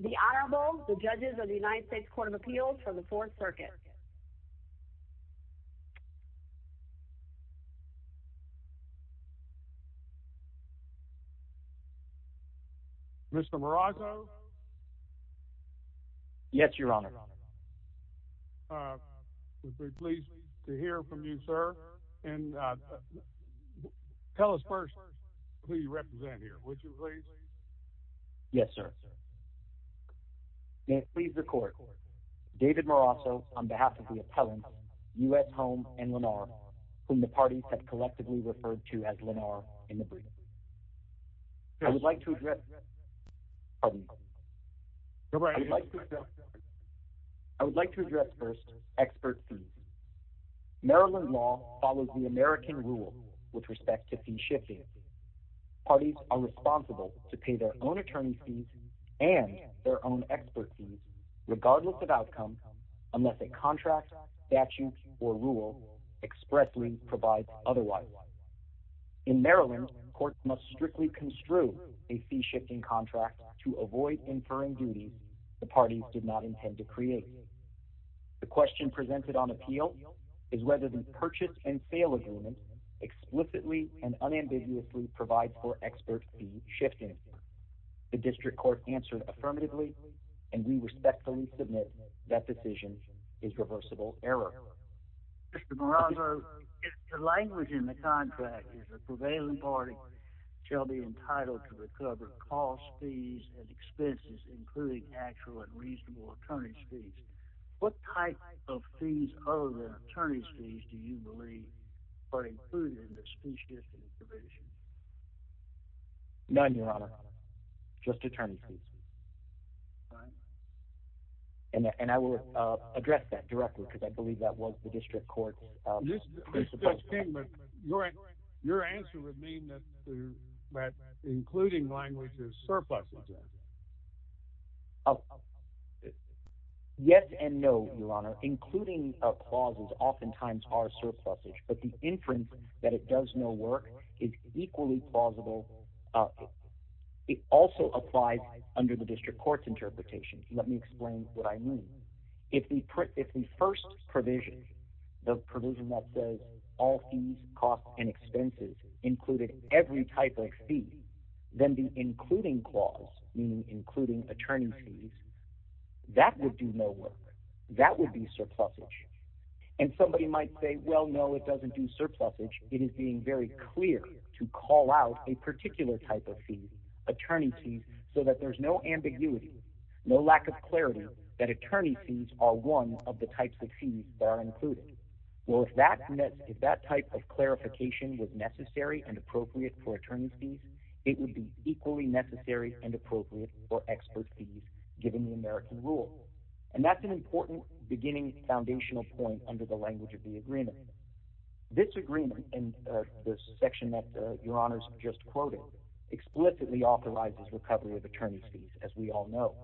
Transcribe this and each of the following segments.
The Honorable, the Judges of the United States Court of Appeals from the Fourth Circuit. Mr. Marazzo? Yes, Your Honor. We're very pleased to hear from you, sir, and tell us first who you represent here, would you please? Yes, sir. May it please the Court, David Marazzo, on behalf of the appellants, U. S. Home and Lenar, whom the parties have collectively referred to as Lenar in the brief. I would like to address... I would like to address first, experts. Maryland law follows the American rule with respect to shifting. Parties are responsible to pay their own attorney fees and their own expert fees, regardless of outcome, unless a contract, statute, or rule expressly provides otherwise. In Maryland, courts must strictly construe a fee-shifting contract to avoid inferring duties the parties did not intend to create. The question presented on appeal is whether the purchase and unambiguously provides for expert fee shifting. The district court answered affirmatively, and we respectfully submit that decision is reversible error. Mr. Marazzo, the language in the contract is the prevailing party shall be entitled to recover cost fees and expenses, including actual and reasonable attorney's fees. What type of fees other than attorney's fees do you believe are included in the fee-shifting provision? None, Your Honor. Just attorney's fees. And I will address that directly, because I believe that was the district court's response. Your answer would mean that including language is surplus. Yes and no, Your Honor. Including clauses oftentimes are surpluses, but the inference that it does no work is equally plausible. It also applies under the district court's interpretation. Let me explain what I mean. If the first provision, the provision that says all fees, costs, and expenses included every type of fee… meaning including attorney's fees, that would do no work. That would be surplusage. And somebody might say, well, no, it doesn't do surplusage. It is being very clear to call out a particular type of fee, attorney's fees, so that there's no ambiguity, no lack of clarity that attorney's fees are one of the types of fees that are included. Well, if that type of clarification was necessary and appropriate for attorney's fees, it would be equally necessary and appropriate for expert fees given the American rule. And that's an important beginning foundational point under the language of the agreement. This agreement in the section that Your Honor's just quoted explicitly authorizes recovery of attorney's fees, as we all know.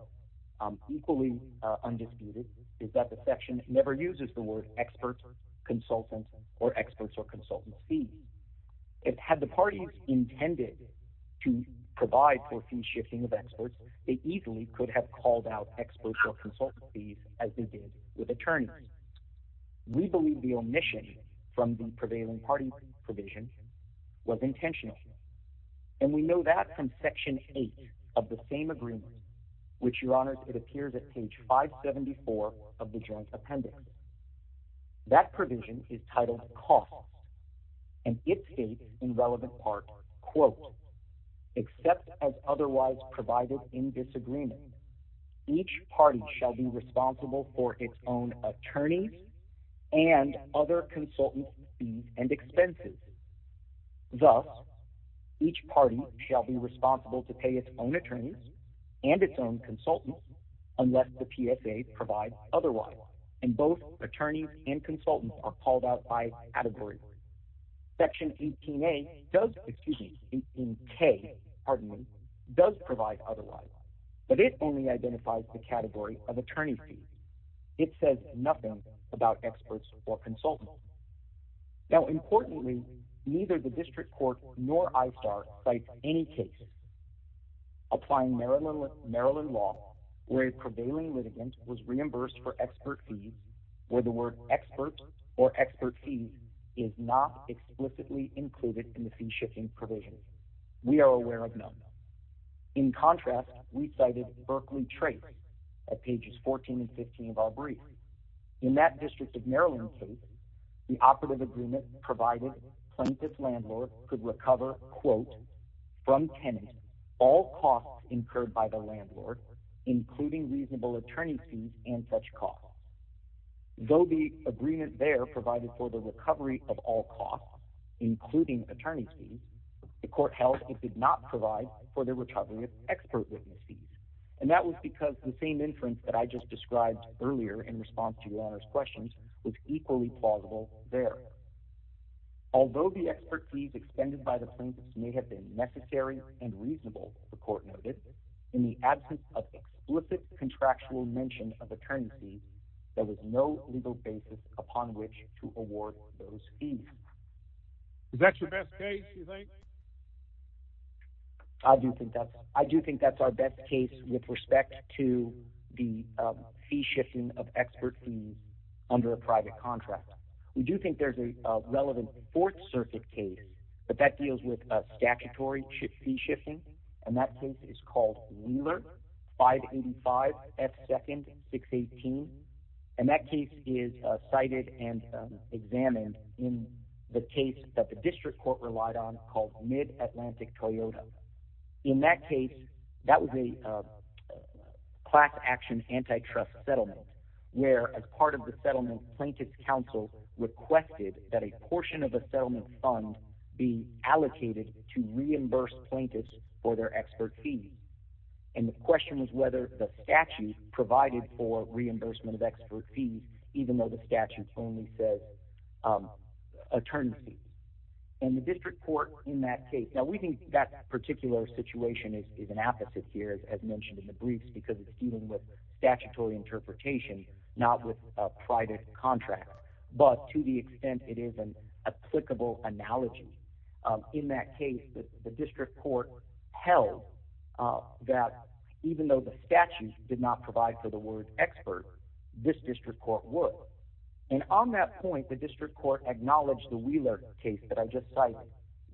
Equally undisputed is that the had the parties intended to provide for fee shifting of experts, they easily could have called out experts or consultant fees as they did with attorneys. We believe the omission from the prevailing party provision was intentional. And we know that from section 8 of the same agreement, which Your Honor, it appears at page 574 of the joint appendix. That provision is titled cost. And it states in relevant part, quote, except as otherwise provided in disagreement, each party shall be responsible for its own attorneys and other consultant fees and expenses. Thus, each party shall be responsible to pay its own attorneys and its own consultant unless the PSA provides otherwise. And both attorneys and consultants are called out by category. Section 18A does, excuse me, 18K, pardon me, does provide otherwise. But it only identifies the category of attorney fees. It says nothing about experts or consultants. Now, importantly, neither the district court nor ISTAR cites any case applying Maryland law where a prevailing litigant was reimbursed for expert fees, where the word experts or expert fees is not explicitly included in the fee shifting provision. We are aware of none. In contrast, we cited Berkley Trait at pages 14 and 15 of our brief. In that district of Maryland case, the operative agreement provided Plaintiff's landlord could recover, quote, from tenants all costs incurred by the landlord, including reasonable attorney fees and such costs. Though the agreement there provided for the recovery of all costs, including attorney fees, the court held it did not provide for the recovery of expert witness fees. And that was because the same inference that I just described earlier in response to your questions was equally plausible there. Although the expert fees expended by the plaintiffs may have been necessary and reasonable, the court noted, in the absence of explicit contractual mention of attorney fees, there was no legal basis upon which to award those fees. Is that your best case, you think? I do think that's I do think that's our best case with respect to the fee shifting of expert fees under a private contract. We do think there's a relevant Fourth Circuit case, but that deals with statutory fee shifting. And that case is called Wheeler 585 F. Second 618. And that case is cited and examined in the case that the district court relied on called Mid-Atlantic Toyota. In that case, that was a class action antitrust settlement where, as part of the settlement, plaintiff's counsel requested that a portion of the settlement fund be allocated to reimburse plaintiffs for their expert fees. And the question was whether the statute provided for reimbursement of expert fees, even though the statute only says attorney fees. And the district court in that case – now, we think that particular situation is an opposite here, as mentioned in the briefs, because it's dealing with statutory interpretation, not with a private contract. But to the extent it is an applicable analogy, in that case, the district court held that even though the statute did not provide for the word expert, this district court would. And on that point, the district court acknowledged the Wheeler case that I just cited,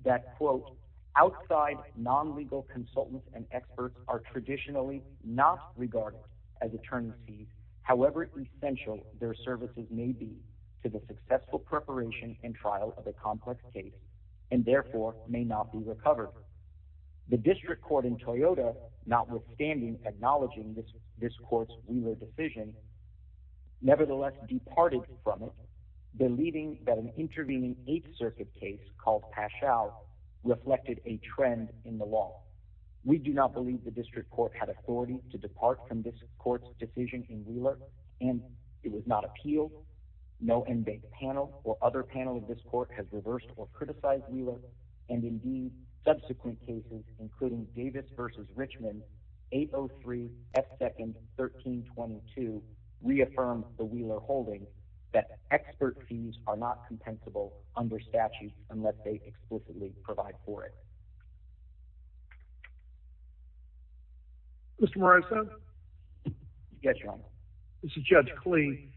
that, quote, outside non-legal consultants and experts are traditionally not regarded as attorney fees, however essential their services may be to the successful preparation and trial of a complex case, and therefore may not be recovered. The district court in Toyota, notwithstanding acknowledging this court's Wheeler decision, nevertheless departed from it, believing that an intervening Eighth Circuit case called Pachow reflected a trend in the law. We do not believe the district court had authority to depart from this court's decision in Wheeler, and it was not appealed. No inmate panel or other panel of this court has reversed or criticized Wheeler, and indeed, subsequent cases, including Davis v. Richmond, 803 F. 2nd 1322, reaffirmed the Wheeler holding that expert fees are not compensable under statute unless they explicitly provide for it. Mr. Morales? Yes, Your Honor. This is Judge Klee.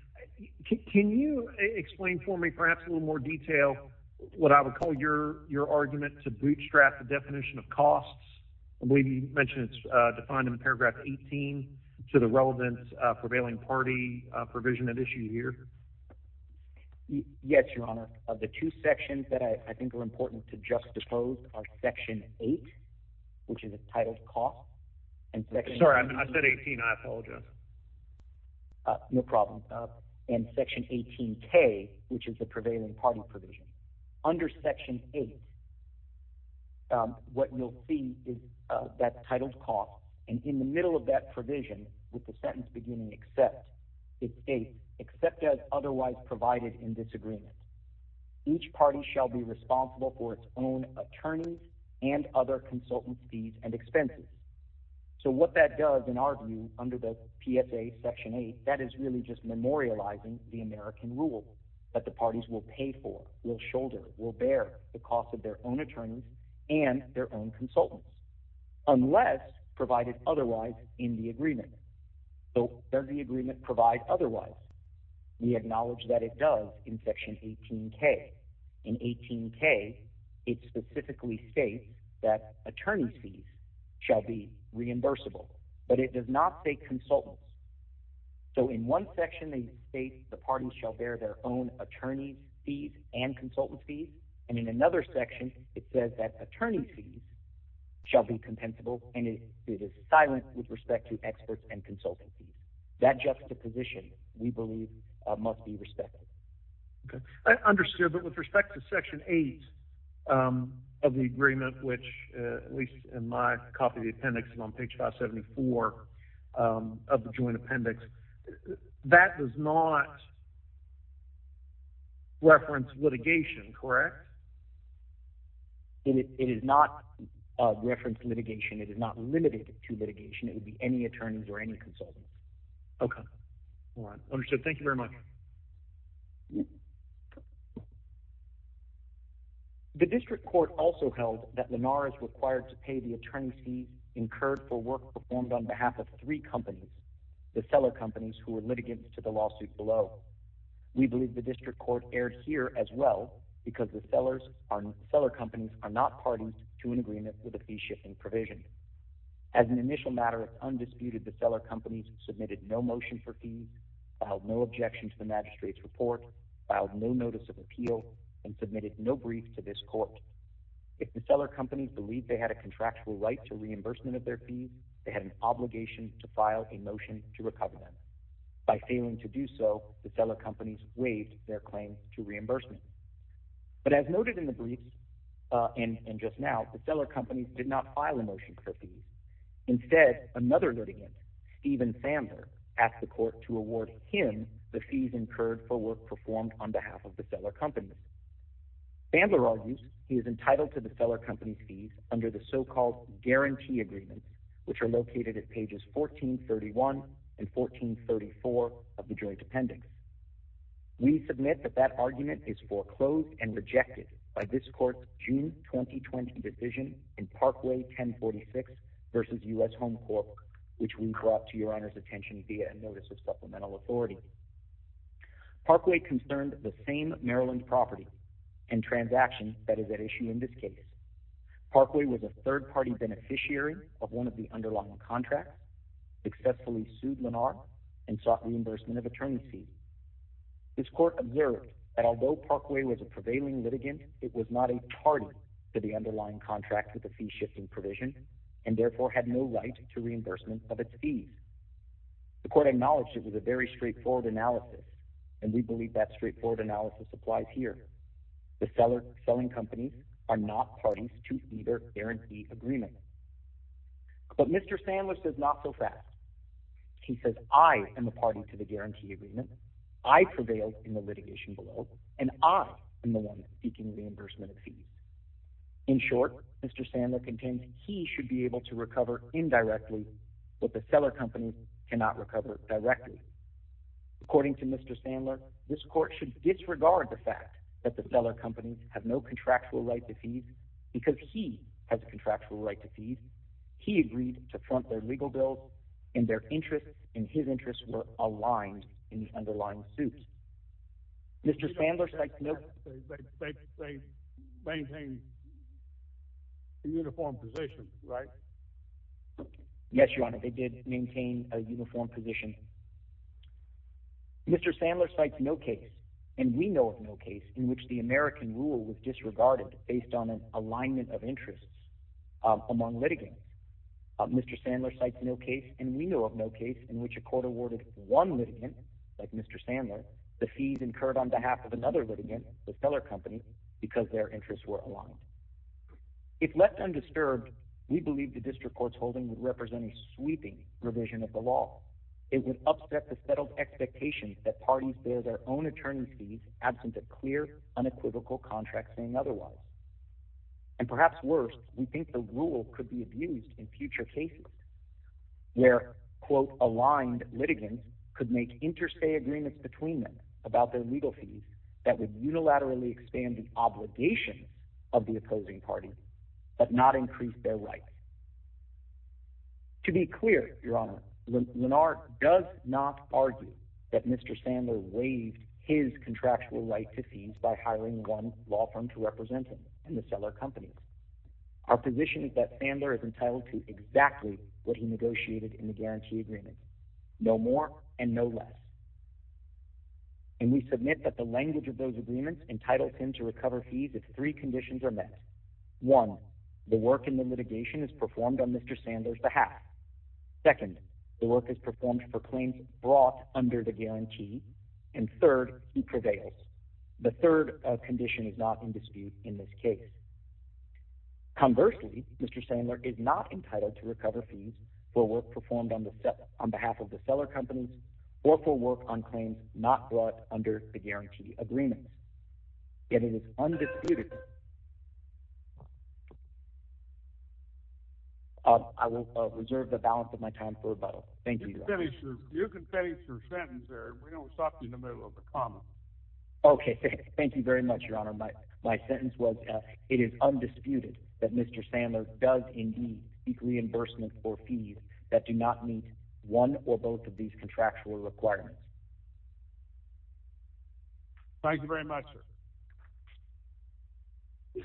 Can you explain for me perhaps a little more detail what I would call your argument to bootstrap the definition of costs? I believe you mentioned it's defined in paragraph 18 to the relevant prevailing party provision at issue here. Yes, Your Honor. The two sections that I think are important to juxtapose are section 8, which is a titled cost. Sorry, I said 18. I apologize. Yes, Your Honor. No problem. And section 18K, which is the prevailing party provision. Under section 8, what you'll see is that titled cost, and in the middle of that provision with the sentence beginning except, it's 8, except as otherwise provided in this agreement. Each party shall be responsible for its own attorneys and other consultant fees and expenses. So what that does, in our view, under the PSA section 8, that is really just memorializing the American rule that the parties will pay for, will shoulder, will bear the cost of their own attorneys and their own consultants unless provided otherwise in the agreement. So does the agreement provide otherwise? We acknowledge that it does in section 18K. In 18K, it specifically states that attorney fees shall be reimbursable, but it does not say consultants. So in one section, they state the parties shall bear their own attorney fees and consultant fees, and in another section, it says that attorney fees shall be compensable, and it is silent with respect to experts and consultant fees. That juxtaposition, we believe, must be respected. Okay. I understood, but with respect to section 8 of the agreement, which at least in my copy of the appendix is on page 574 of the joint appendix, that does not reference litigation, correct? It does not reference litigation. It is not limited to litigation. It would be any attorneys or consultants. Okay. All right. Understood. Thank you very much. The district court also held that Lennar is required to pay the attorney's fee incurred for work performed on behalf of three companies, the seller companies who were litigants to the lawsuit below. We believe the district court erred here as well because the seller companies are not parties to an agreement with a fee-shifting provision. As an initial matter, undisputed, the seller companies submitted no motion for fees, filed no objection to the magistrate's report, filed no notice of appeal, and submitted no brief to this court. If the seller companies believed they had a contractual right to reimbursement of their fees, they had an obligation to file a motion to recover them. By failing to do so, the seller companies waived their claim to reimbursement. But as noted in the briefs and just now, the seller companies did not Stephen Fandler asked the court to award him the fees incurred for work performed on behalf of the seller companies. Fandler argues he is entitled to the seller company fees under the so-called guarantee agreement, which are located at pages 1431 and 1434 of the joint appendix. We submit that that argument is foreclosed and rejected by this court's June 2020 decision in Parkway 1046 versus U.S. Home Corp., which we brought to your Honor's attention via a notice of supplemental authority. Parkway concerned the same Maryland property and transaction that is at issue in this case. Parkway was a third-party beneficiary of one of the underlying contracts, successfully sued Lennar, and sought reimbursement of attorney fees. This court observed that although Parkway was a prevailing litigant, it was not a party to the underlying contract with the fee-shifting provision, and therefore had no right to reimbursement of its fees. The court acknowledged it was a very straightforward analysis, and we believe that straightforward analysis applies here. The selling companies are not parties to either guarantee agreement. But Mr. Fandler says not so fast. He says I am a party to the guarantee agreement. I prevailed in the litigation below, and I am the one seeking reimbursement of fees. In short, Mr. Fandler contends he should be able to recover indirectly what the seller companies cannot recover directly. According to Mr. Fandler, this court should disregard the fact that the seller companies have no contractual right to fees because he has a contractual right to fees. He agreed to front their legal bills, and their interests and his interests were aligned in the underlying suit. Mr. Fandler cites no case, and we know of no case in which the American rule was disregarded based on an alignment of interests among litigants. Mr. Fandler cites no case, and we know of no case in which a court awarded one litigant, like Mr. Fandler, the fees incurred on behalf of another litigant, the seller company, because their interests were aligned. If left undisturbed, we believe the district court's holding would represent a sweeping revision of the law. It would upset the settled expectations that parties bear their own contracts saying otherwise. And perhaps worse, we think the rule could be abused in future cases where, quote, aligned litigants could make interstate agreements between them about their legal fees that would unilaterally expand the obligations of the opposing parties, but not increase their rights. To be clear, Your Honor, Lennar does not argue that Mr. Fandler waived his contractual right to fees by hiring one law firm to represent him and the seller company. Our position is that Fandler is entitled to exactly what he negotiated in the guarantee agreement. No more and no less. And we submit that the language of those agreements entitles him to recover fees if three conditions are met. One, the work in the litigation is performed on Mr. Fandler's behalf. Second, the work is performed for claims brought under the guarantee. And third, he prevails. The third condition is not in dispute in this case. Conversely, Mr. Fandler is not entitled to recover fees for work performed on behalf of the seller companies or for work on balance of my time for rebuttal. Thank you. You can finish your sentence there. We don't stop you in the middle of the comment. Okay. Thank you very much, Your Honor. My sentence was it is undisputed that Mr. Fandler does indeed seek reimbursement for fees that do not meet one or both of these contractual requirements. Thank you very much, sir.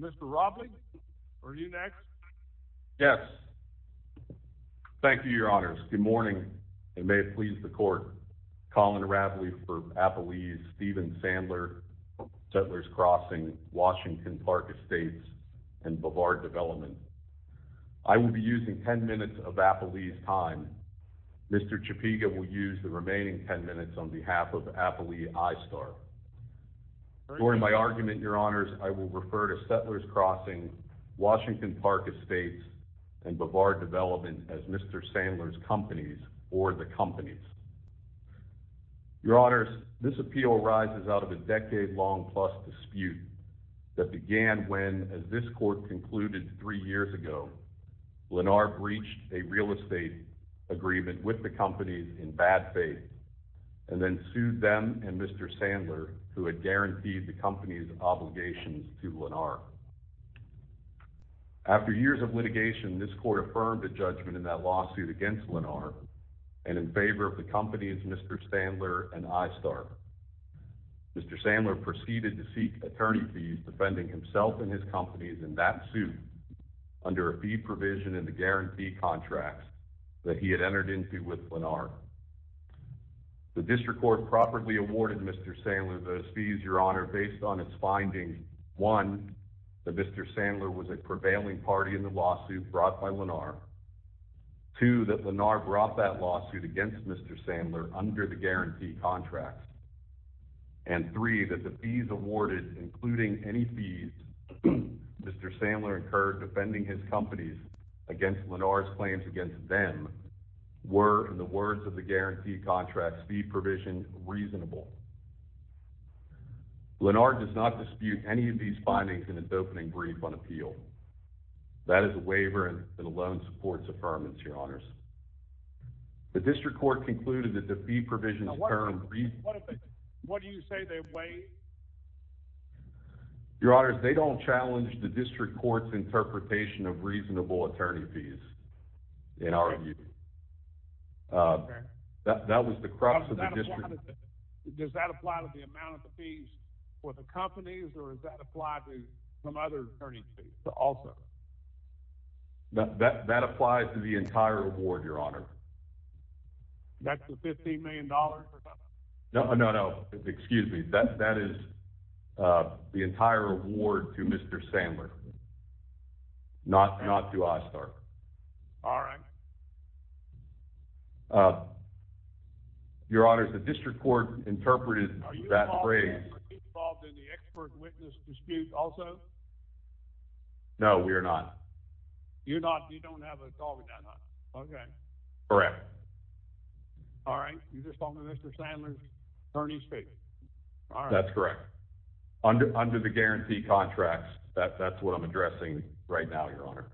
Mr. Robley, are you next? Yes. Thank you, Your Honors. Good morning and may it please the court. Colin Raveley for Applebee's, Steven Fandler, Settler's Crossing, Washington Park Estates, and Bavard Development. I will be using 10 minutes of Applebee's time. Mr. Chapiga will use the remaining 10 minutes on behalf of Applebee ISTAR. During my argument, Your Honors, I will refer to Settler's Crossing, Washington Park Estates, and Bavard Development as Mr. Sandler's companies or the companies. Your Honors, this appeal arises out of a decade-long plus dispute that began when, as this court concluded three years ago, Lennar breached a real estate agreement with the companies in bad faith and then sued them and Mr. Sandler, who had guaranteed the company's obligations to Lennar. After years of litigation, this court affirmed a judgment in that lawsuit against Lennar and in favor of the companies Mr. Sandler and ISTAR. Mr. Sandler proceeded to seek attorney fees defending himself and his companies in that suit under a fee provision in the guarantee contracts that he had entered into with Lennar. The district court properly awarded Mr. Sandler those fees, Your Honor, based on its findings. One, that Mr. Sandler was a prevailing party in the lawsuit brought by Lennar. Two, that Lennar brought that lawsuit against Mr. Sandler under the guarantee contracts. And three, that the fees awarded, including any fees Mr. Sandler incurred defending his companies against Lennar's claims against them, were, in the words of the guarantee contracts fee provision, reasonable. Lennar does not dispute any of these findings in his opening brief on appeal. That is a waiver and it alone supports affirmance, Your Honors. The district court concluded that the fee provision... What do you say they weigh? Your Honors, they don't challenge the district court's interpretation of reasonable attorney fees in our view. That was the crux of the district. Does that apply to the amount of the fees for the companies or does that apply to some other attorney fees also? That applies to the entire award, Your Honor. That's the $15 million? No, no, no. Excuse me. That is the entire award to Mr. Sandler, not to Ozturk. All right. Your Honors, the district court interpreted that phrase... Are you involved in the expert witness dispute also? No, we are not. You're not? You don't have a dog that much? Okay. Correct. All right. You just saw Mr. Sandler's attorney's face. That's correct. Under the guarantee contracts, that's what I'm addressing right now, Your Honor.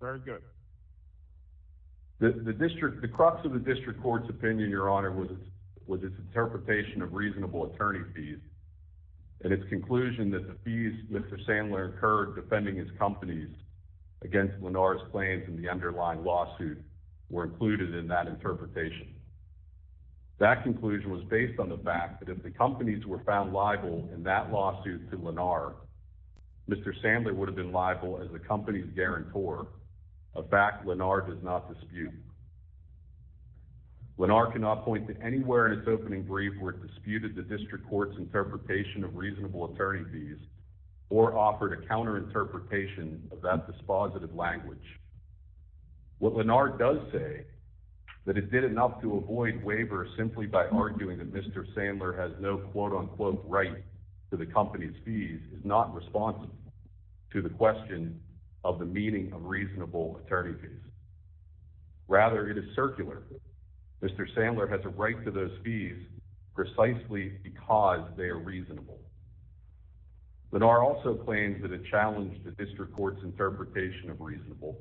Very good. The crux of the district court's opinion, Your Honor, was its interpretation of reasonable attorney fees and its conclusion that the fees Mr. Sandler incurred defending his companies against Lennar's claims in the underlying lawsuit were included in that interpretation. That conclusion was based on the fact that if the companies were found liable in that lawsuit to Lennar, Mr. Sandler would have been liable as the company's guarantor, a fact Lennar does not dispute. Lennar cannot point to anywhere in its opening brief where it disputed the district court's interpretation of reasonable attorney fees or offered a counter-interpretation of that dispositive language. What Lennar does say that it did enough to avoid waiver simply by arguing that Mr. Sandler has no quote-unquote right to the company's fees is not responsive to the question of the meaning of reasonable attorney fees. Rather, it is circular. Mr. Sandler has a right to those fees precisely because they are reasonable. Lennar also claims that it challenged the district court's interpretation of reasonable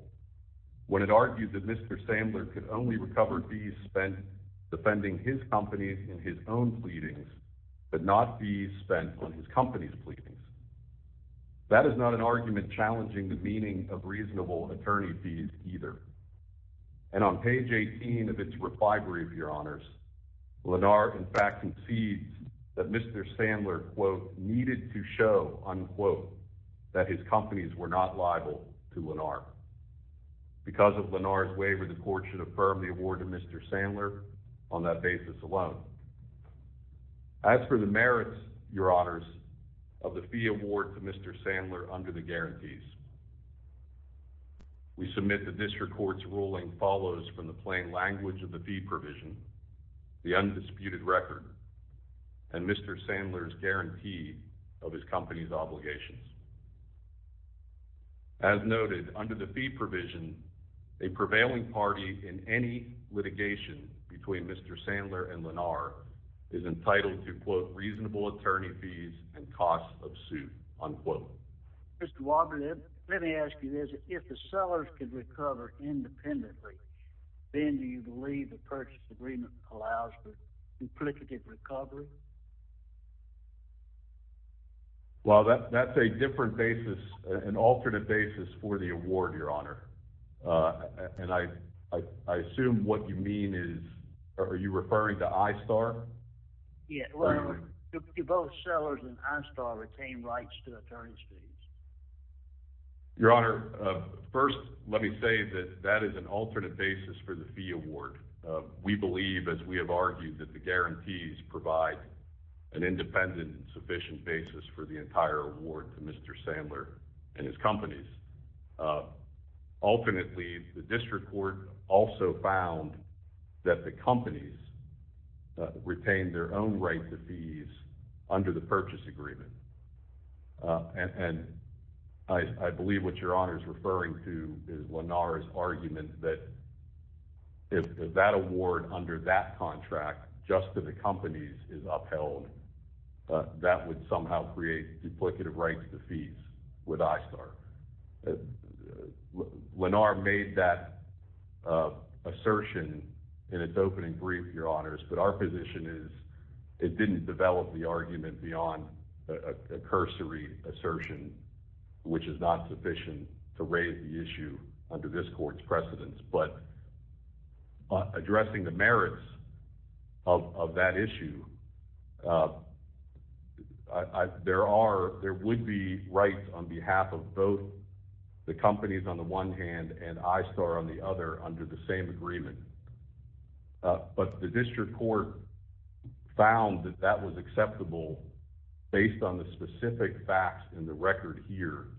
when it argued that Mr. Sandler could only recover fees spent defending his companies in his own pleadings but not fees spent on his company's pleadings. That is not an argument challenging the meaning of reasonable attorney fees either. And on page 18 of its recovery of your honors, Lennar in fact concedes that Mr. Sandler quote needed to show unquote that his companies were not liable to Lennar. Because of Lennar's waiver, the court should affirm the award of Mr. Sandler on that basis alone. As for the merits, your honors, of the fee award to Mr. Sandler under the guarantees, we submit that this court's ruling follows from the plain language of the fee provision, the undisputed record, and Mr. Sandler's guarantee of his company's obligations. As noted, under the fee provision, a prevailing party in any litigation between Mr. Sandler and Lennar is entitled to quote reasonable attorney fees and costs of suit unquote. Mr. Walden, let me ask you this. If the sellers can recover independently, then do you believe the purchase agreement allows for duplicative recovery? Well, that's a different basis, an alternative basis for the award, your honor. And I assume what you mean is, are you referring to ISTAR? Yeah, well, do both sellers and ISTAR retain rights to attorney's fees? Your honor, first, let me say that that is an alternate basis for the fee award. We believe, as we have argued, that the guarantees provide an independent and sufficient basis for the entire award to Mr. Sandler and his companies. Ultimately, the district court also found that the companies retained their own rights to fees under the purchase agreement. And I believe what your honor is referring to is Lennar's argument that if that award under that contract just to the companies is upheld, that would somehow create duplicative rights to fees with ISTAR. Lennar made that assertion in its opening brief, your honors, but our position is it didn't develop the argument beyond a cursory assertion, which is not sufficient to raise the issue under this court's precedence. But addressing the merits of that issue, uh, there are, there would be rights on behalf of both the companies on the one hand and ISTAR on the other under the same agreement. But the district court found that that was acceptable based on the specific facts in the record here,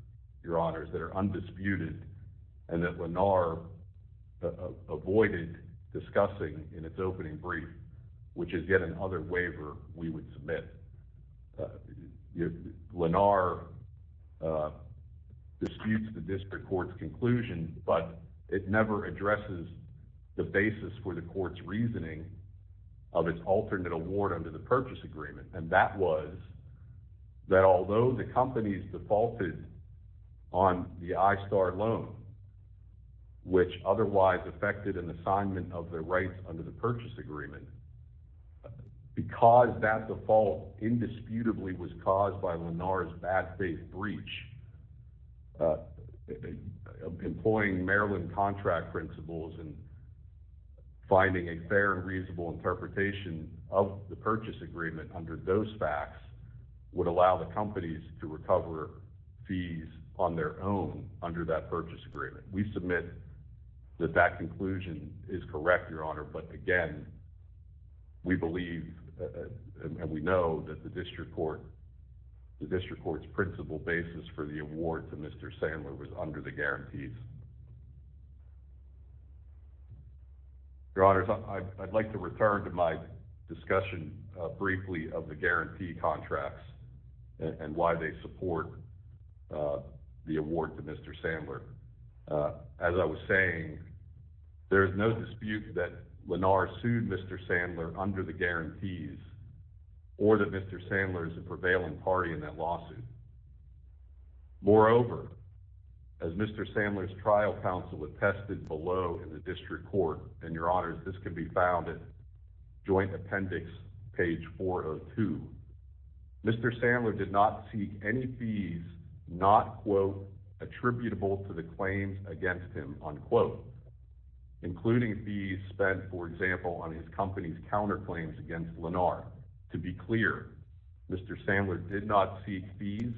your honors, that are undisputed and that Lennar avoided discussing in its opening brief, which is yet another waiver we would submit. Lennar disputes the district court's conclusion, but it never addresses the basis for the court's reasoning of its alternate award under the purchase agreement. And that was that although the companies defaulted on the ISTAR loan, which otherwise affected an assignment of their rights under the purchase agreement, because that default indisputably was caused by Lennar's bad faith breach, uh, employing Maryland contract principles and finding a fair and reasonable interpretation of the purchase agreement under those facts would allow the companies to recover fees on their own under that purchase agreement. We submit that that conclusion is correct, your honor. But again, we believe, uh, and we know that the district court, the district court's principle basis for the award to Mr. Sandler was under the guarantees. Your honors, I'd like to return to my discussion, uh, briefly of the guarantee contracts and why they support, uh, the award to Mr. Sandler. Uh, as I was saying, there is no dispute that Lennar sued Mr. Sandler under the guarantees or that Mr. Sandler is a prevailing party in that was tested below in the district court. And your honors, this can be found at joint appendix, page 402. Mr. Sandler did not seek any fees, not quote attributable to the claims against him on quote, including fees spent, for example, on his company's counterclaims against Lennar. To be clear, Mr. Sandler did not seek fees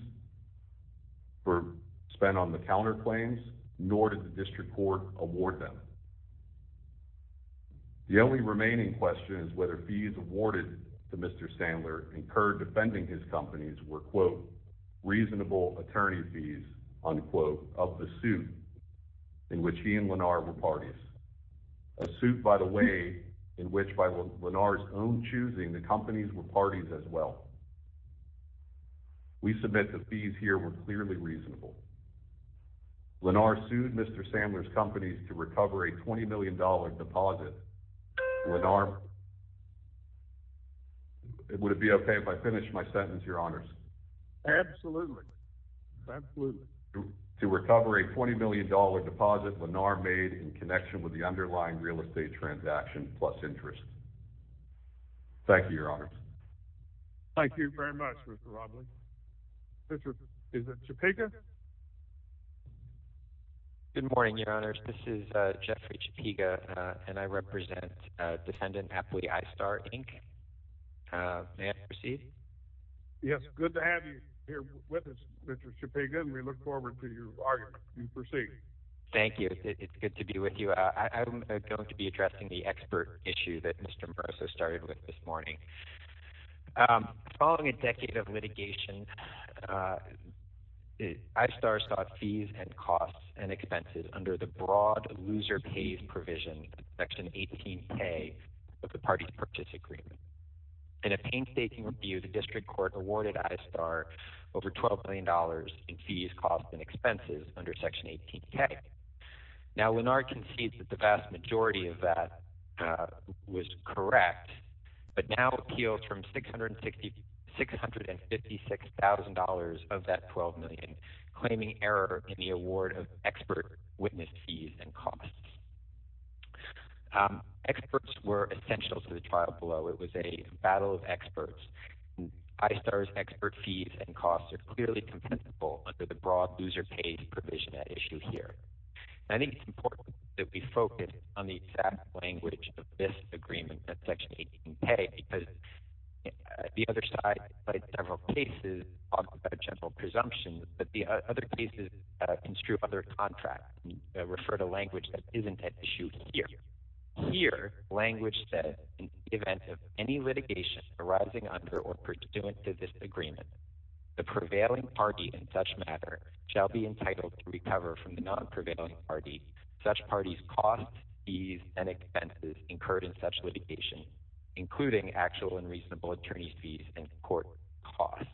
for spent on the counterclaims, nor did the district court award them. The only remaining question is whether fees awarded to Mr. Sandler incurred defending his companies were quote, reasonable attorney fees, unquote of the suit in which he and Lennar were parties as well. We submit the fees here were clearly reasonable. Lennar sued Mr. Sandler's companies to recover a $20 million deposit. Lennar, would it be okay if I finished my sentence, your honors? Absolutely. Absolutely. To recover a $20 million deposit Lennar made in connection with the underlying real estate transaction plus interest. Thank you, your honors. Thank you very much, Mr. Roblin. Mr. Chapika. Good morning, your honors. This is Jeffrey Chapika and I represent defendant Apley I-Star Inc. May I proceed? Yes. Good to have you here with us, Mr. Chapika. And we look forward to your argument. You proceed. Thank you. It's good to be with you. I'm going to be addressing the expert issue that Mr. Moroso started with this morning. Following a decade of litigation, I-Star sought fees and costs and expenses under the broad loser pays provision, section 18K of the parties purchase agreement. In a painstaking review, the district court awarded I-Star over $12 million in fees, costs and expenses under section 18K. Now, Lennar concedes that the vast majority of that was correct, but now appeals from $656,000 of that $12 million, claiming error in the award of expert witness fees and costs. Experts were essential to the trial below. It was a battle of experts. I-Star's expert fees and costs are clearly compensable under the broad loser pays provision at issue here. And I think it's important that we focus on the exact language of this agreement at section 18K because the other side, in several cases, talks about general presumptions, but the other cases construe other contracts and refer to language that isn't at issue here. Here, language that in the event of any litigation arising under or pursuant to this agreement, the prevailing party in such matter shall be entitled to recover from the non-prevailing party such party's costs, fees and expenses incurred in such litigation, including actual and reasonable attorney's fees and court costs.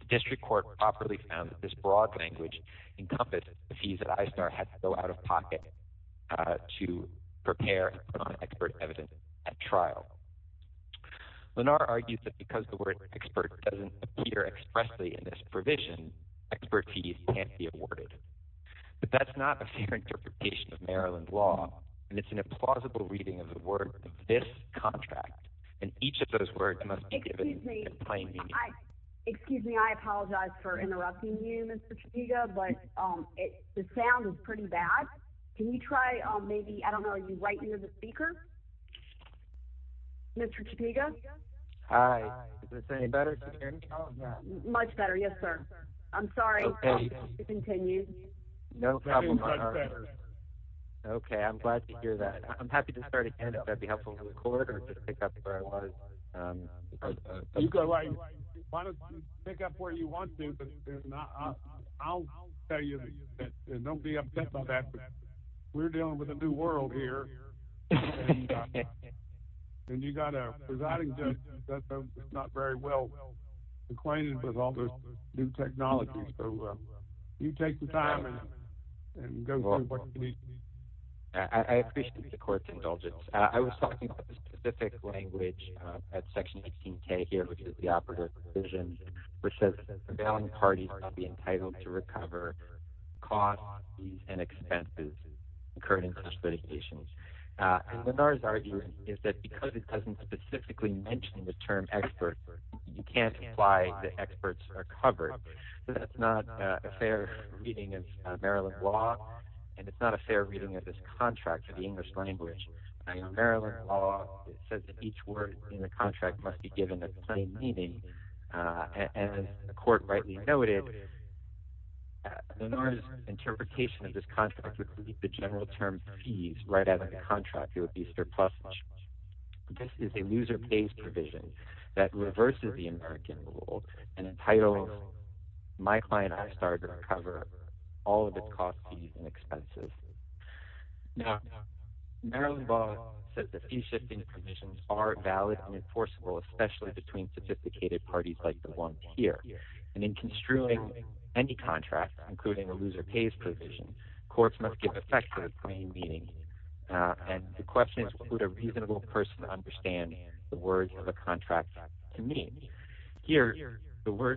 The district court properly found that this broad language encompassed the fees that I-Star had to go out of pocket to prepare non-expert evidence at trial. Lenar argues that because the word expert doesn't appear expressly in this provision, expert fees can't be awarded. But that's not a fair interpretation of Maryland law, and it's an implausible reading of the word of this contract, and each of those words must be given in plain meaning. Excuse me, I apologize for interrupting you, Mr. Trudeau, but the sound is pretty bad. Can you try maybe, I don't know, right near the speaker? Mr. Topeka? Hi, is this any better? Much better, yes, sir. I'm sorry to continue. No problem. Okay, I'm glad to hear that. I'm happy to start again, if that'd be helpful. You can pick up where you want to, but I'll tell you, don't be upset about that. We're dealing with a new world here, and you got a presiding judge that's not very well acquainted with all this new technology, so you take the time and go through what you need to do. I appreciate the court's indulgence. I was talking about the specific language at section 18k here, which is the operative provision, which says that prevailing parties must be entitled to recover costs and expenses incurred in such litigation. And Lennar's argument is that because it doesn't specifically mention the term expert, you can't imply the experts are covered. That's not a fair reading of Maryland law, and it's not a fair reading of this contract for the English language. I mean, Maryland law says that each word in the contract must be given a plain meaning, and as the court rightly noted, Lennar's interpretation of this contract would be the general term fees right out of the contract. It would be surpluses. This is a user-pays provision that reverses the American rule and entitles my client I've started to recover all of its costs, fees, and expenses. Now, Maryland law says that fee-shifting provisions are valid and enforceable, especially between sophisticated parties like the ones here. And in construing any contract, including a user-pays provision, courts must give effect to the plain meaning. And the question is, would a reasonable person understand the words of a contract to mean? Here, the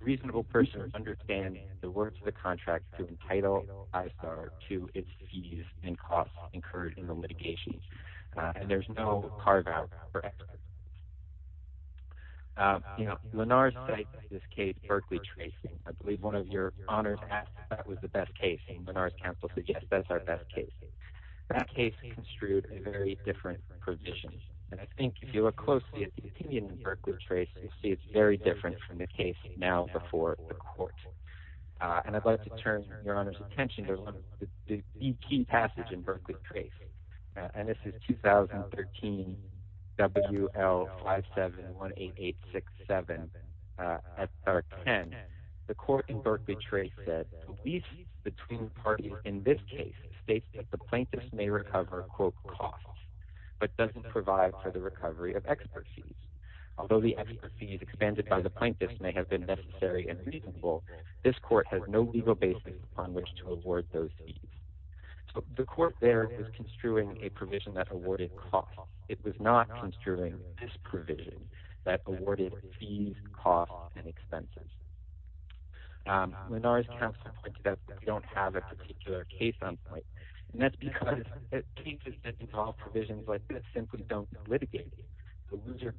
reasonable person understands the words of the contract to entitle its fees and costs incurred in the litigation, and there's no carve-out for experts. Lennar's cited this case, Berkeley Tracing. I believe one of your honors asked if that was the best case, and Lennar's counsel suggests that's our best case. That case construed a very different provision, and I think if you look closely at the opinion in Berkeley Tracing, you see it's very different from the case now before the court. And I'd like to turn your honors attention to the key passage in Berkeley Tracing, and this is 2013 WL5718867 SR10. The court in Berkeley Tracing said, the lease between parties in this case states that the plaintiff may recover, quote, costs, but doesn't provide for the recovery of expert fees. Although the expert fees expanded by the plaintiff may have been necessary and reasonable, this court has no legal basis on which to award those fees. So the court there is construing a provision that awarded costs. It was not construing this provision that awarded fees, costs, and expenses. Lennar's counsel points out that we don't have a particular case on point, and that's because cases that involve provisions like this simply don't litigate it. The loser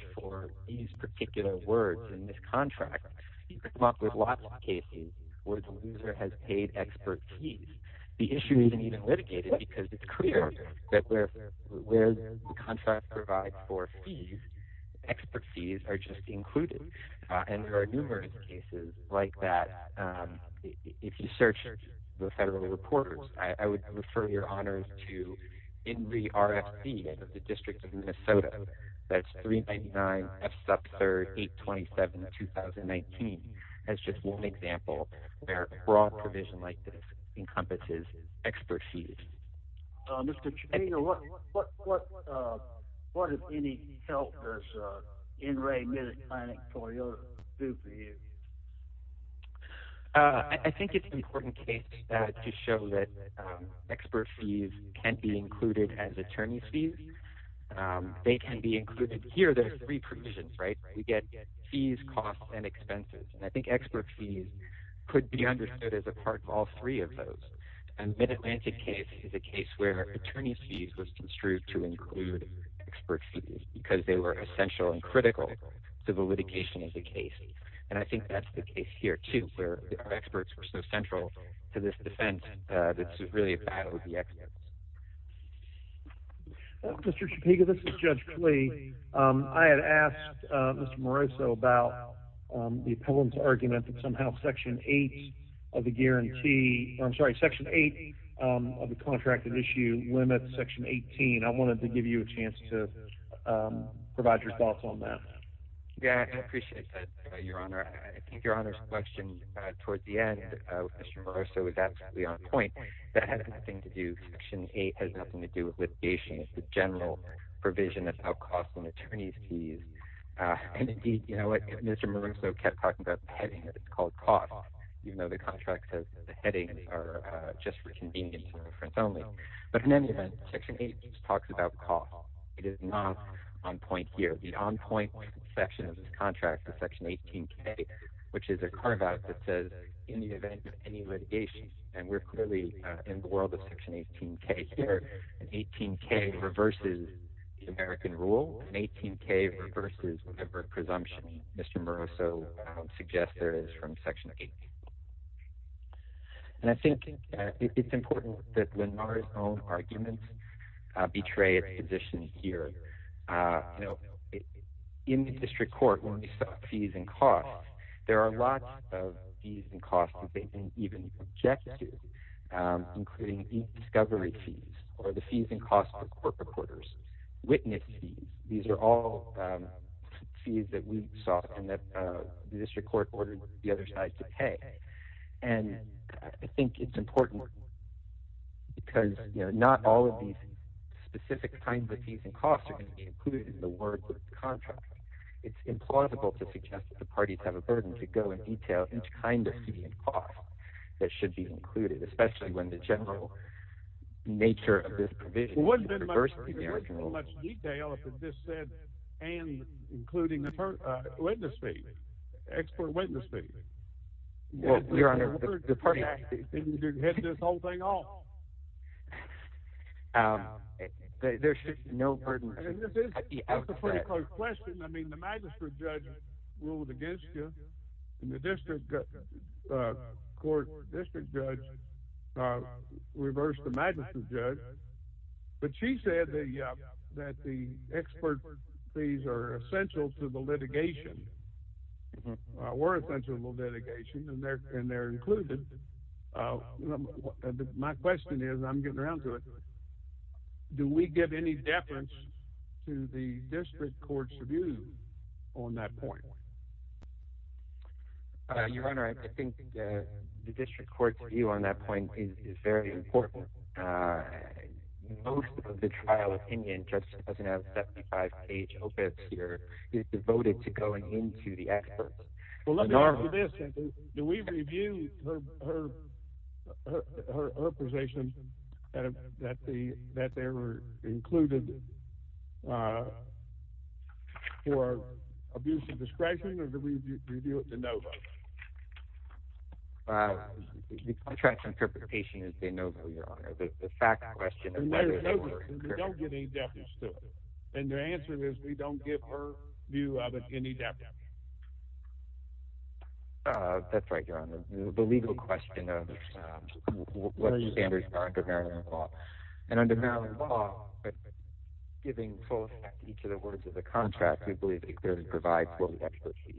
for these particular words in this contract came up with lots of cases where the loser has paid expert fees. The issue isn't even litigated because it's clear that where the contract provides for fees, expert fees are just included. And there are numerous cases like that. If you search the federal reporters, I would refer your honors to INRI RFP of the District of Minnesota. That's 399-F-SUB-3RD-827-2019 as just one example where a broad provision like this encompasses expert fees. Mr. Chapino, what, what, what, what, what, what, what, if any, can you tell us what INRI is planning to do for you? I think it's an important case to show that expert fees can be included as attorney's fees. Um, they can be included here. There are three provisions, right? We get fees, costs, and expenses. And I think expert fees could be understood as a part of all three of those. And Mid-Atlantic case is a case where attorney's fees was construed to include expert fees because they were essential and critical to the litigation of the case. And I think that's the case here, too, where our experts were so central to this defense that it's really a battle of the experts. Mr. Chapino, this is Judge Klee. Um, I had asked, uh, Mr. Moroso about, um, the appellant's argument that somehow Section 8 of the guarantee, or I'm sorry, Section 8, um, of the contracted issue limits Section 18. I wanted to give you a chance to, um, provide your thoughts on that. Yeah, I appreciate that, Your Honor. I think Your Honor's question, uh, toward the end, uh, Mr. Moroso is absolutely on point. That has nothing to do—Section 8 has nothing to do with litigation. It's the general provision about costs and attorney's fees. Uh, and indeed, you know what? Mr. Moroso kept talking about the heading that's called cost, even though the contract says that the headings are, uh, just for convenience and reference only. But in any event, Section 8 just talks about cost. It is not on point here. The on-point section of this contract is Section 18K, which is a carve-out that says, in the event of any litigation—and we're clearly, uh, in the world of Section 18K here—and 18K reverses the American rule, and 18K reverses whatever presumption Mr. Moroso would suggest there is from Section 8. And I think, uh, it—it's important that Lenore's own arguments, uh, betray its position here. Uh, you know, in the district court, when we talk fees and costs, there are lots of fees and costs that they didn't even object to, um, including e-discovery fees, or the fees and costs for court reporters, witness fees. These are all, um, fees that we sought and that, uh, the district court ordered the other side to pay. And I think it's important, because, you know, not all of these specific kinds of fees and costs are going to be included in the word contract. It's implausible to suggest that the parties have a burden to go in detail each kind of fee and cost that should be included, especially when the general nature of this provision is to reverse the American rule. Well, wouldn't it be much more detailed if it just said, and including the, uh, witness fee—expert witness fee? Well, Your Honor, the party— And you're hitting this whole thing off. Um, there should be no burden— And this is, this is a pretty close question. I mean, the magistrate judge ruled against you, and the district, uh, court, district judge, uh, reversed the magistrate judge, but she said the, uh, that the expert fees are essential to the litigation, were essential to the litigation, and they're, and they're included. Uh, my question is—I'm getting around to it—do we give any deference to the district court's on that point? Uh, Your Honor, I think, uh, the district court's view on that point is, is very important. Uh, most of the trial opinion just doesn't have that five-page opus here. It's devoted to going into the experts. Well, let me ask you this. Do we review her, her, her, her, her position that, that the, that they were included, uh, for abuse of discretion, or do we review it to no vote? Uh, the contrast interpretation is a no vote, Your Honor. The fact question— And they're no votes. They don't give any deference to it. And their answer is, we don't give her view of it any deference. Uh, that's right, Your Honor. The legal question of, um, what standards are under Maryland law, and under Maryland law, but giving full effect to each of the words of the contract, we believe it clearly provides what we actually see.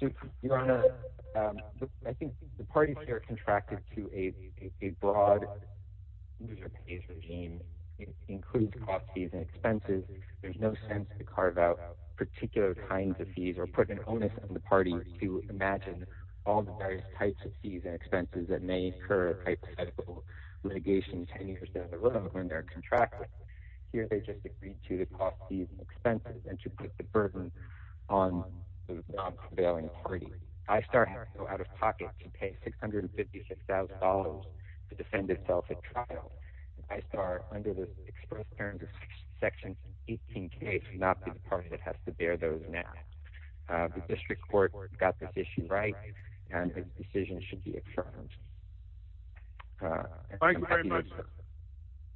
So, Your Honor, um, I think the parties here contracted to a, a, a broad user-paced regime, includes cost fees and expenses. There's no sense to carve out particular kinds of fees or put an onus on the parties to imagine all the various types of fees and expenses that may incur hypothetical litigation ten years down the road when they're contracted. Here, they just agreed to the cost fees and expenses, and to put the burden on the non-prevailing party. ISTAR has out-of-pocket to pay $656,000 to defend itself at trial. ISTAR, under the express terms of Section 18K, is not the party that has to bear those net. Uh, the district court got this issue right, and this decision should be affirmed. Uh, and— Thank you very much, sir.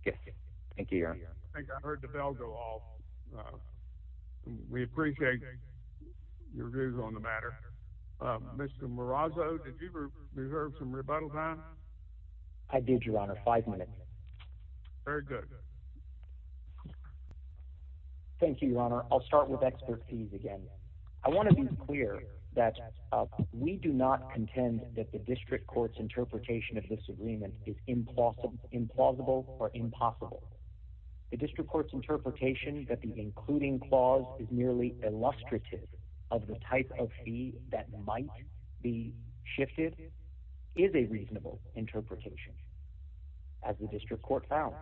Yes, sir. Thank you, Your Honor. I think I heard the bell go off. Uh, we appreciate your views on the matter. Uh, Mr. Marazzo, did you reserve some rebuttal time? I did, Your Honor. Five minutes. Very good. Thank you, Your Honor. I'll start with expert fees again. I want to be clear that, uh, we do not contend that the district court's interpretation of this agreement is implausible, implausible, or impossible. The district court's interpretation that the including clause is merely illustrative of the type of fee that might be shifted is a reasonable interpretation, as the district court found.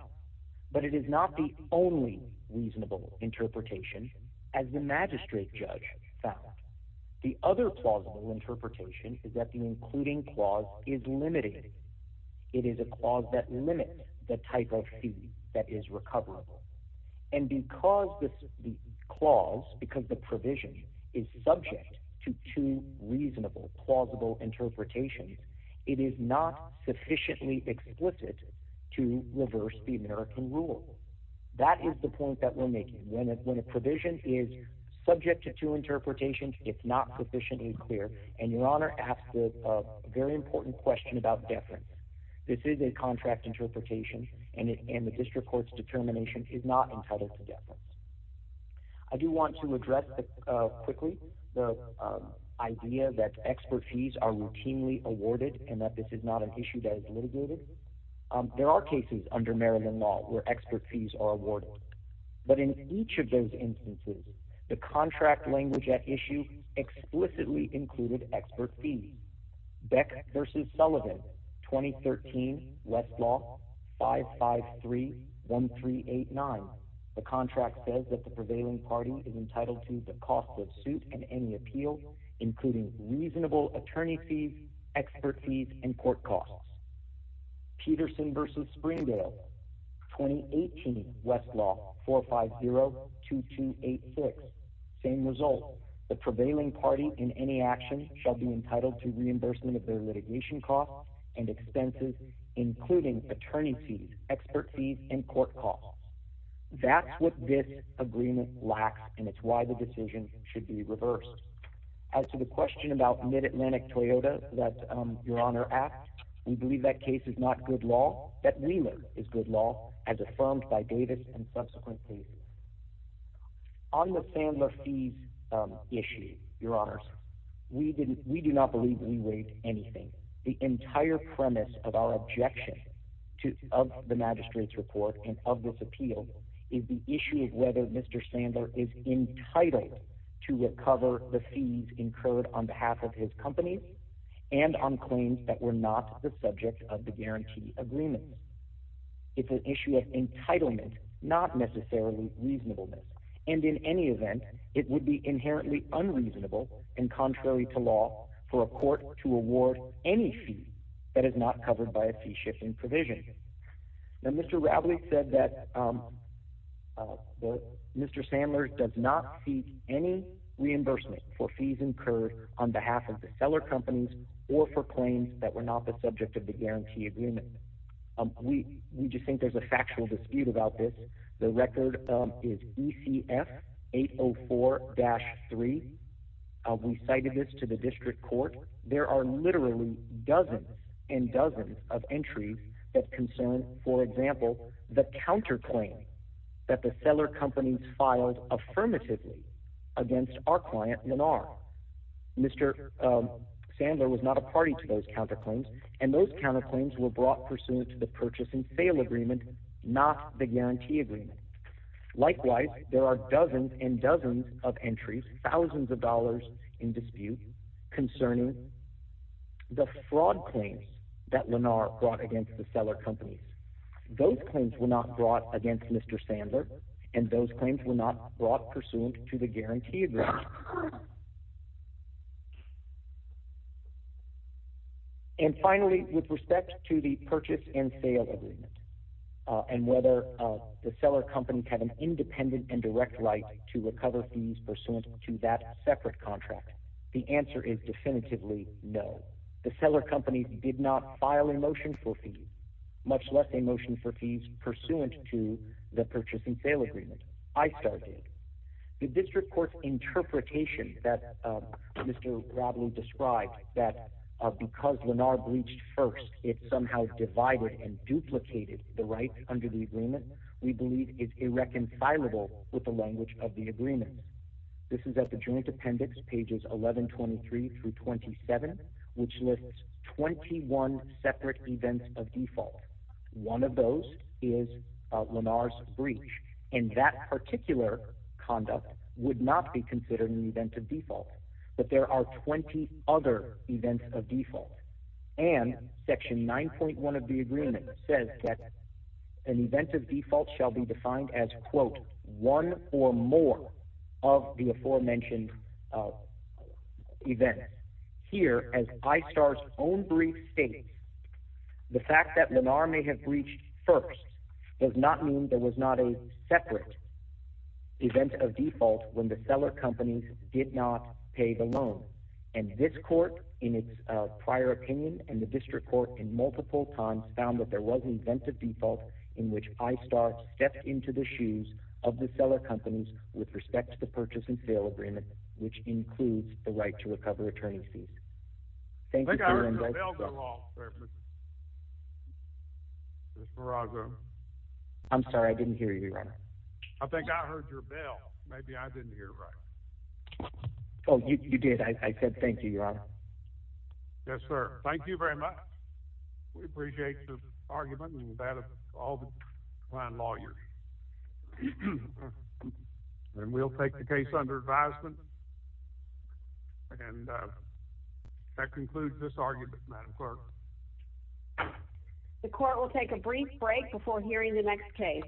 But it is not the only reasonable interpretation, as the magistrate judge found. The other plausible interpretation is that the including clause is limiting. It is a clause that limits the type of fee that is recoverable. And because the clause, because the provision is subject to two reasonable, plausible interpretations, it is not sufficiently explicit to reverse the American rule. That is the point that we're making. When a provision is subject to two interpretations, it's not sufficiently clear, and Your Honor asked a very important question about deference. This is a contract interpretation, and the district court's determination is not entitled to deference. I do want to address quickly the idea that expert fees are routinely awarded, and that this is not an issue that is litigated. There are cases under Maryland law where expert fees are awarded. But in each of those instances, the contract language at issue explicitly included expert fees. Beck versus Sullivan, 2013 Westlaw 5531389. The contract says that the prevailing party is entitled to the cost of suit and any appeal, including reasonable attorney fees, expert fees, and court costs. Peterson versus Springdale, 2018 Westlaw 4502286. Same result. The prevailing party in any action shall be entitled to reimbursement of their litigation costs and expenses, including attorney fees, expert fees, and court costs. That's what this agreement lacks, and it's why the decision should be reversed. As to the question about mid-Atlantic Toyota that Your Honor asked, we believe that case is not good law, that we know is good law, as affirmed by Davis and subsequent cases. On the Sandler fees issue, Your Honors, we do not believe we waived anything. The entire premise of our objection of the magistrate's report and of this appeal is the issue of whether Mr. Sandler is entitled to recover the fees incurred on behalf of his company and on claims that were not the subject of the guarantee agreement. It's an issue of entitlement, not necessarily reasonableness. And in any event, it would be inherently unreasonable and contrary to law for a court to award any fee that is not covered by a fee-shifting provision. Now, Mr. Radley said that Mr. Sandler does not seek any reimbursement for fees incurred on behalf of the seller companies or for claims that were not the subject of the guarantee agreement. We just think there's a factual dispute about this. The record is ECF 804-3. We cited this to the district court. There are literally dozens and dozens of entries that concern, for example, the counterclaim that the seller companies filed affirmatively against our client, Lenar. Mr. Sandler was not a party to those counterclaims, and those counterclaims were brought pursuant to the purchase and sale agreement, not the guarantee agreement. Likewise, there are dozens and dozens of entries, thousands of dollars in dispute concerning the fraud claims that Lenar brought against the seller companies. Those claims were not brought against Mr. Sandler, and those claims were not brought pursuant to the guarantee agreement. And finally, with respect to the purchase and sale agreement and whether the seller companies had an independent and direct right to recover fees pursuant to that separate contract, the answer is definitively no. The seller companies did not file a motion for fees, much less a motion for fees pursuant to the purchase and sale agreement. ISTAR did. The district court's interpretation that Mr. Bradley described, that because Lenar breached first, it somehow divided and duplicated the rights under the agreement, we believe is irreconcilable with the language of the agreement. This is at the joint appendix, pages 1123 through 27, which lists 21 separate events of default. One of those is Lenar's breach. In that particular conduct would not be considered an event of default, but there are 20 other events of default. And section 9.1 of the agreement says that an event of default shall be defined as, quote, one or more of the aforementioned events. Here, as ISTAR's own brief states, the fact that Lenar may have breached first does not mean there was not a separate event of default when the seller companies did not pay the loan. And this court, in its prior opinion, and the district court in multiple times found that there was an event of default in which ISTAR stepped into the shoes of the seller companies with respect to the purchase and sale agreement, which includes the right to recover attorney's fees. Thank you, Mr. Randolph. I'm sorry, I didn't hear you, Your Honor. I think I heard your bell. Maybe I didn't hear it right. Oh, you did. I said thank you, Your Honor. Yes, sir. Thank you very much. We appreciate the argument and that of all the fine lawyers. And we'll take the case under advisement. And that concludes this argument, Madam Clerk. The court will take a brief break before hearing the next case.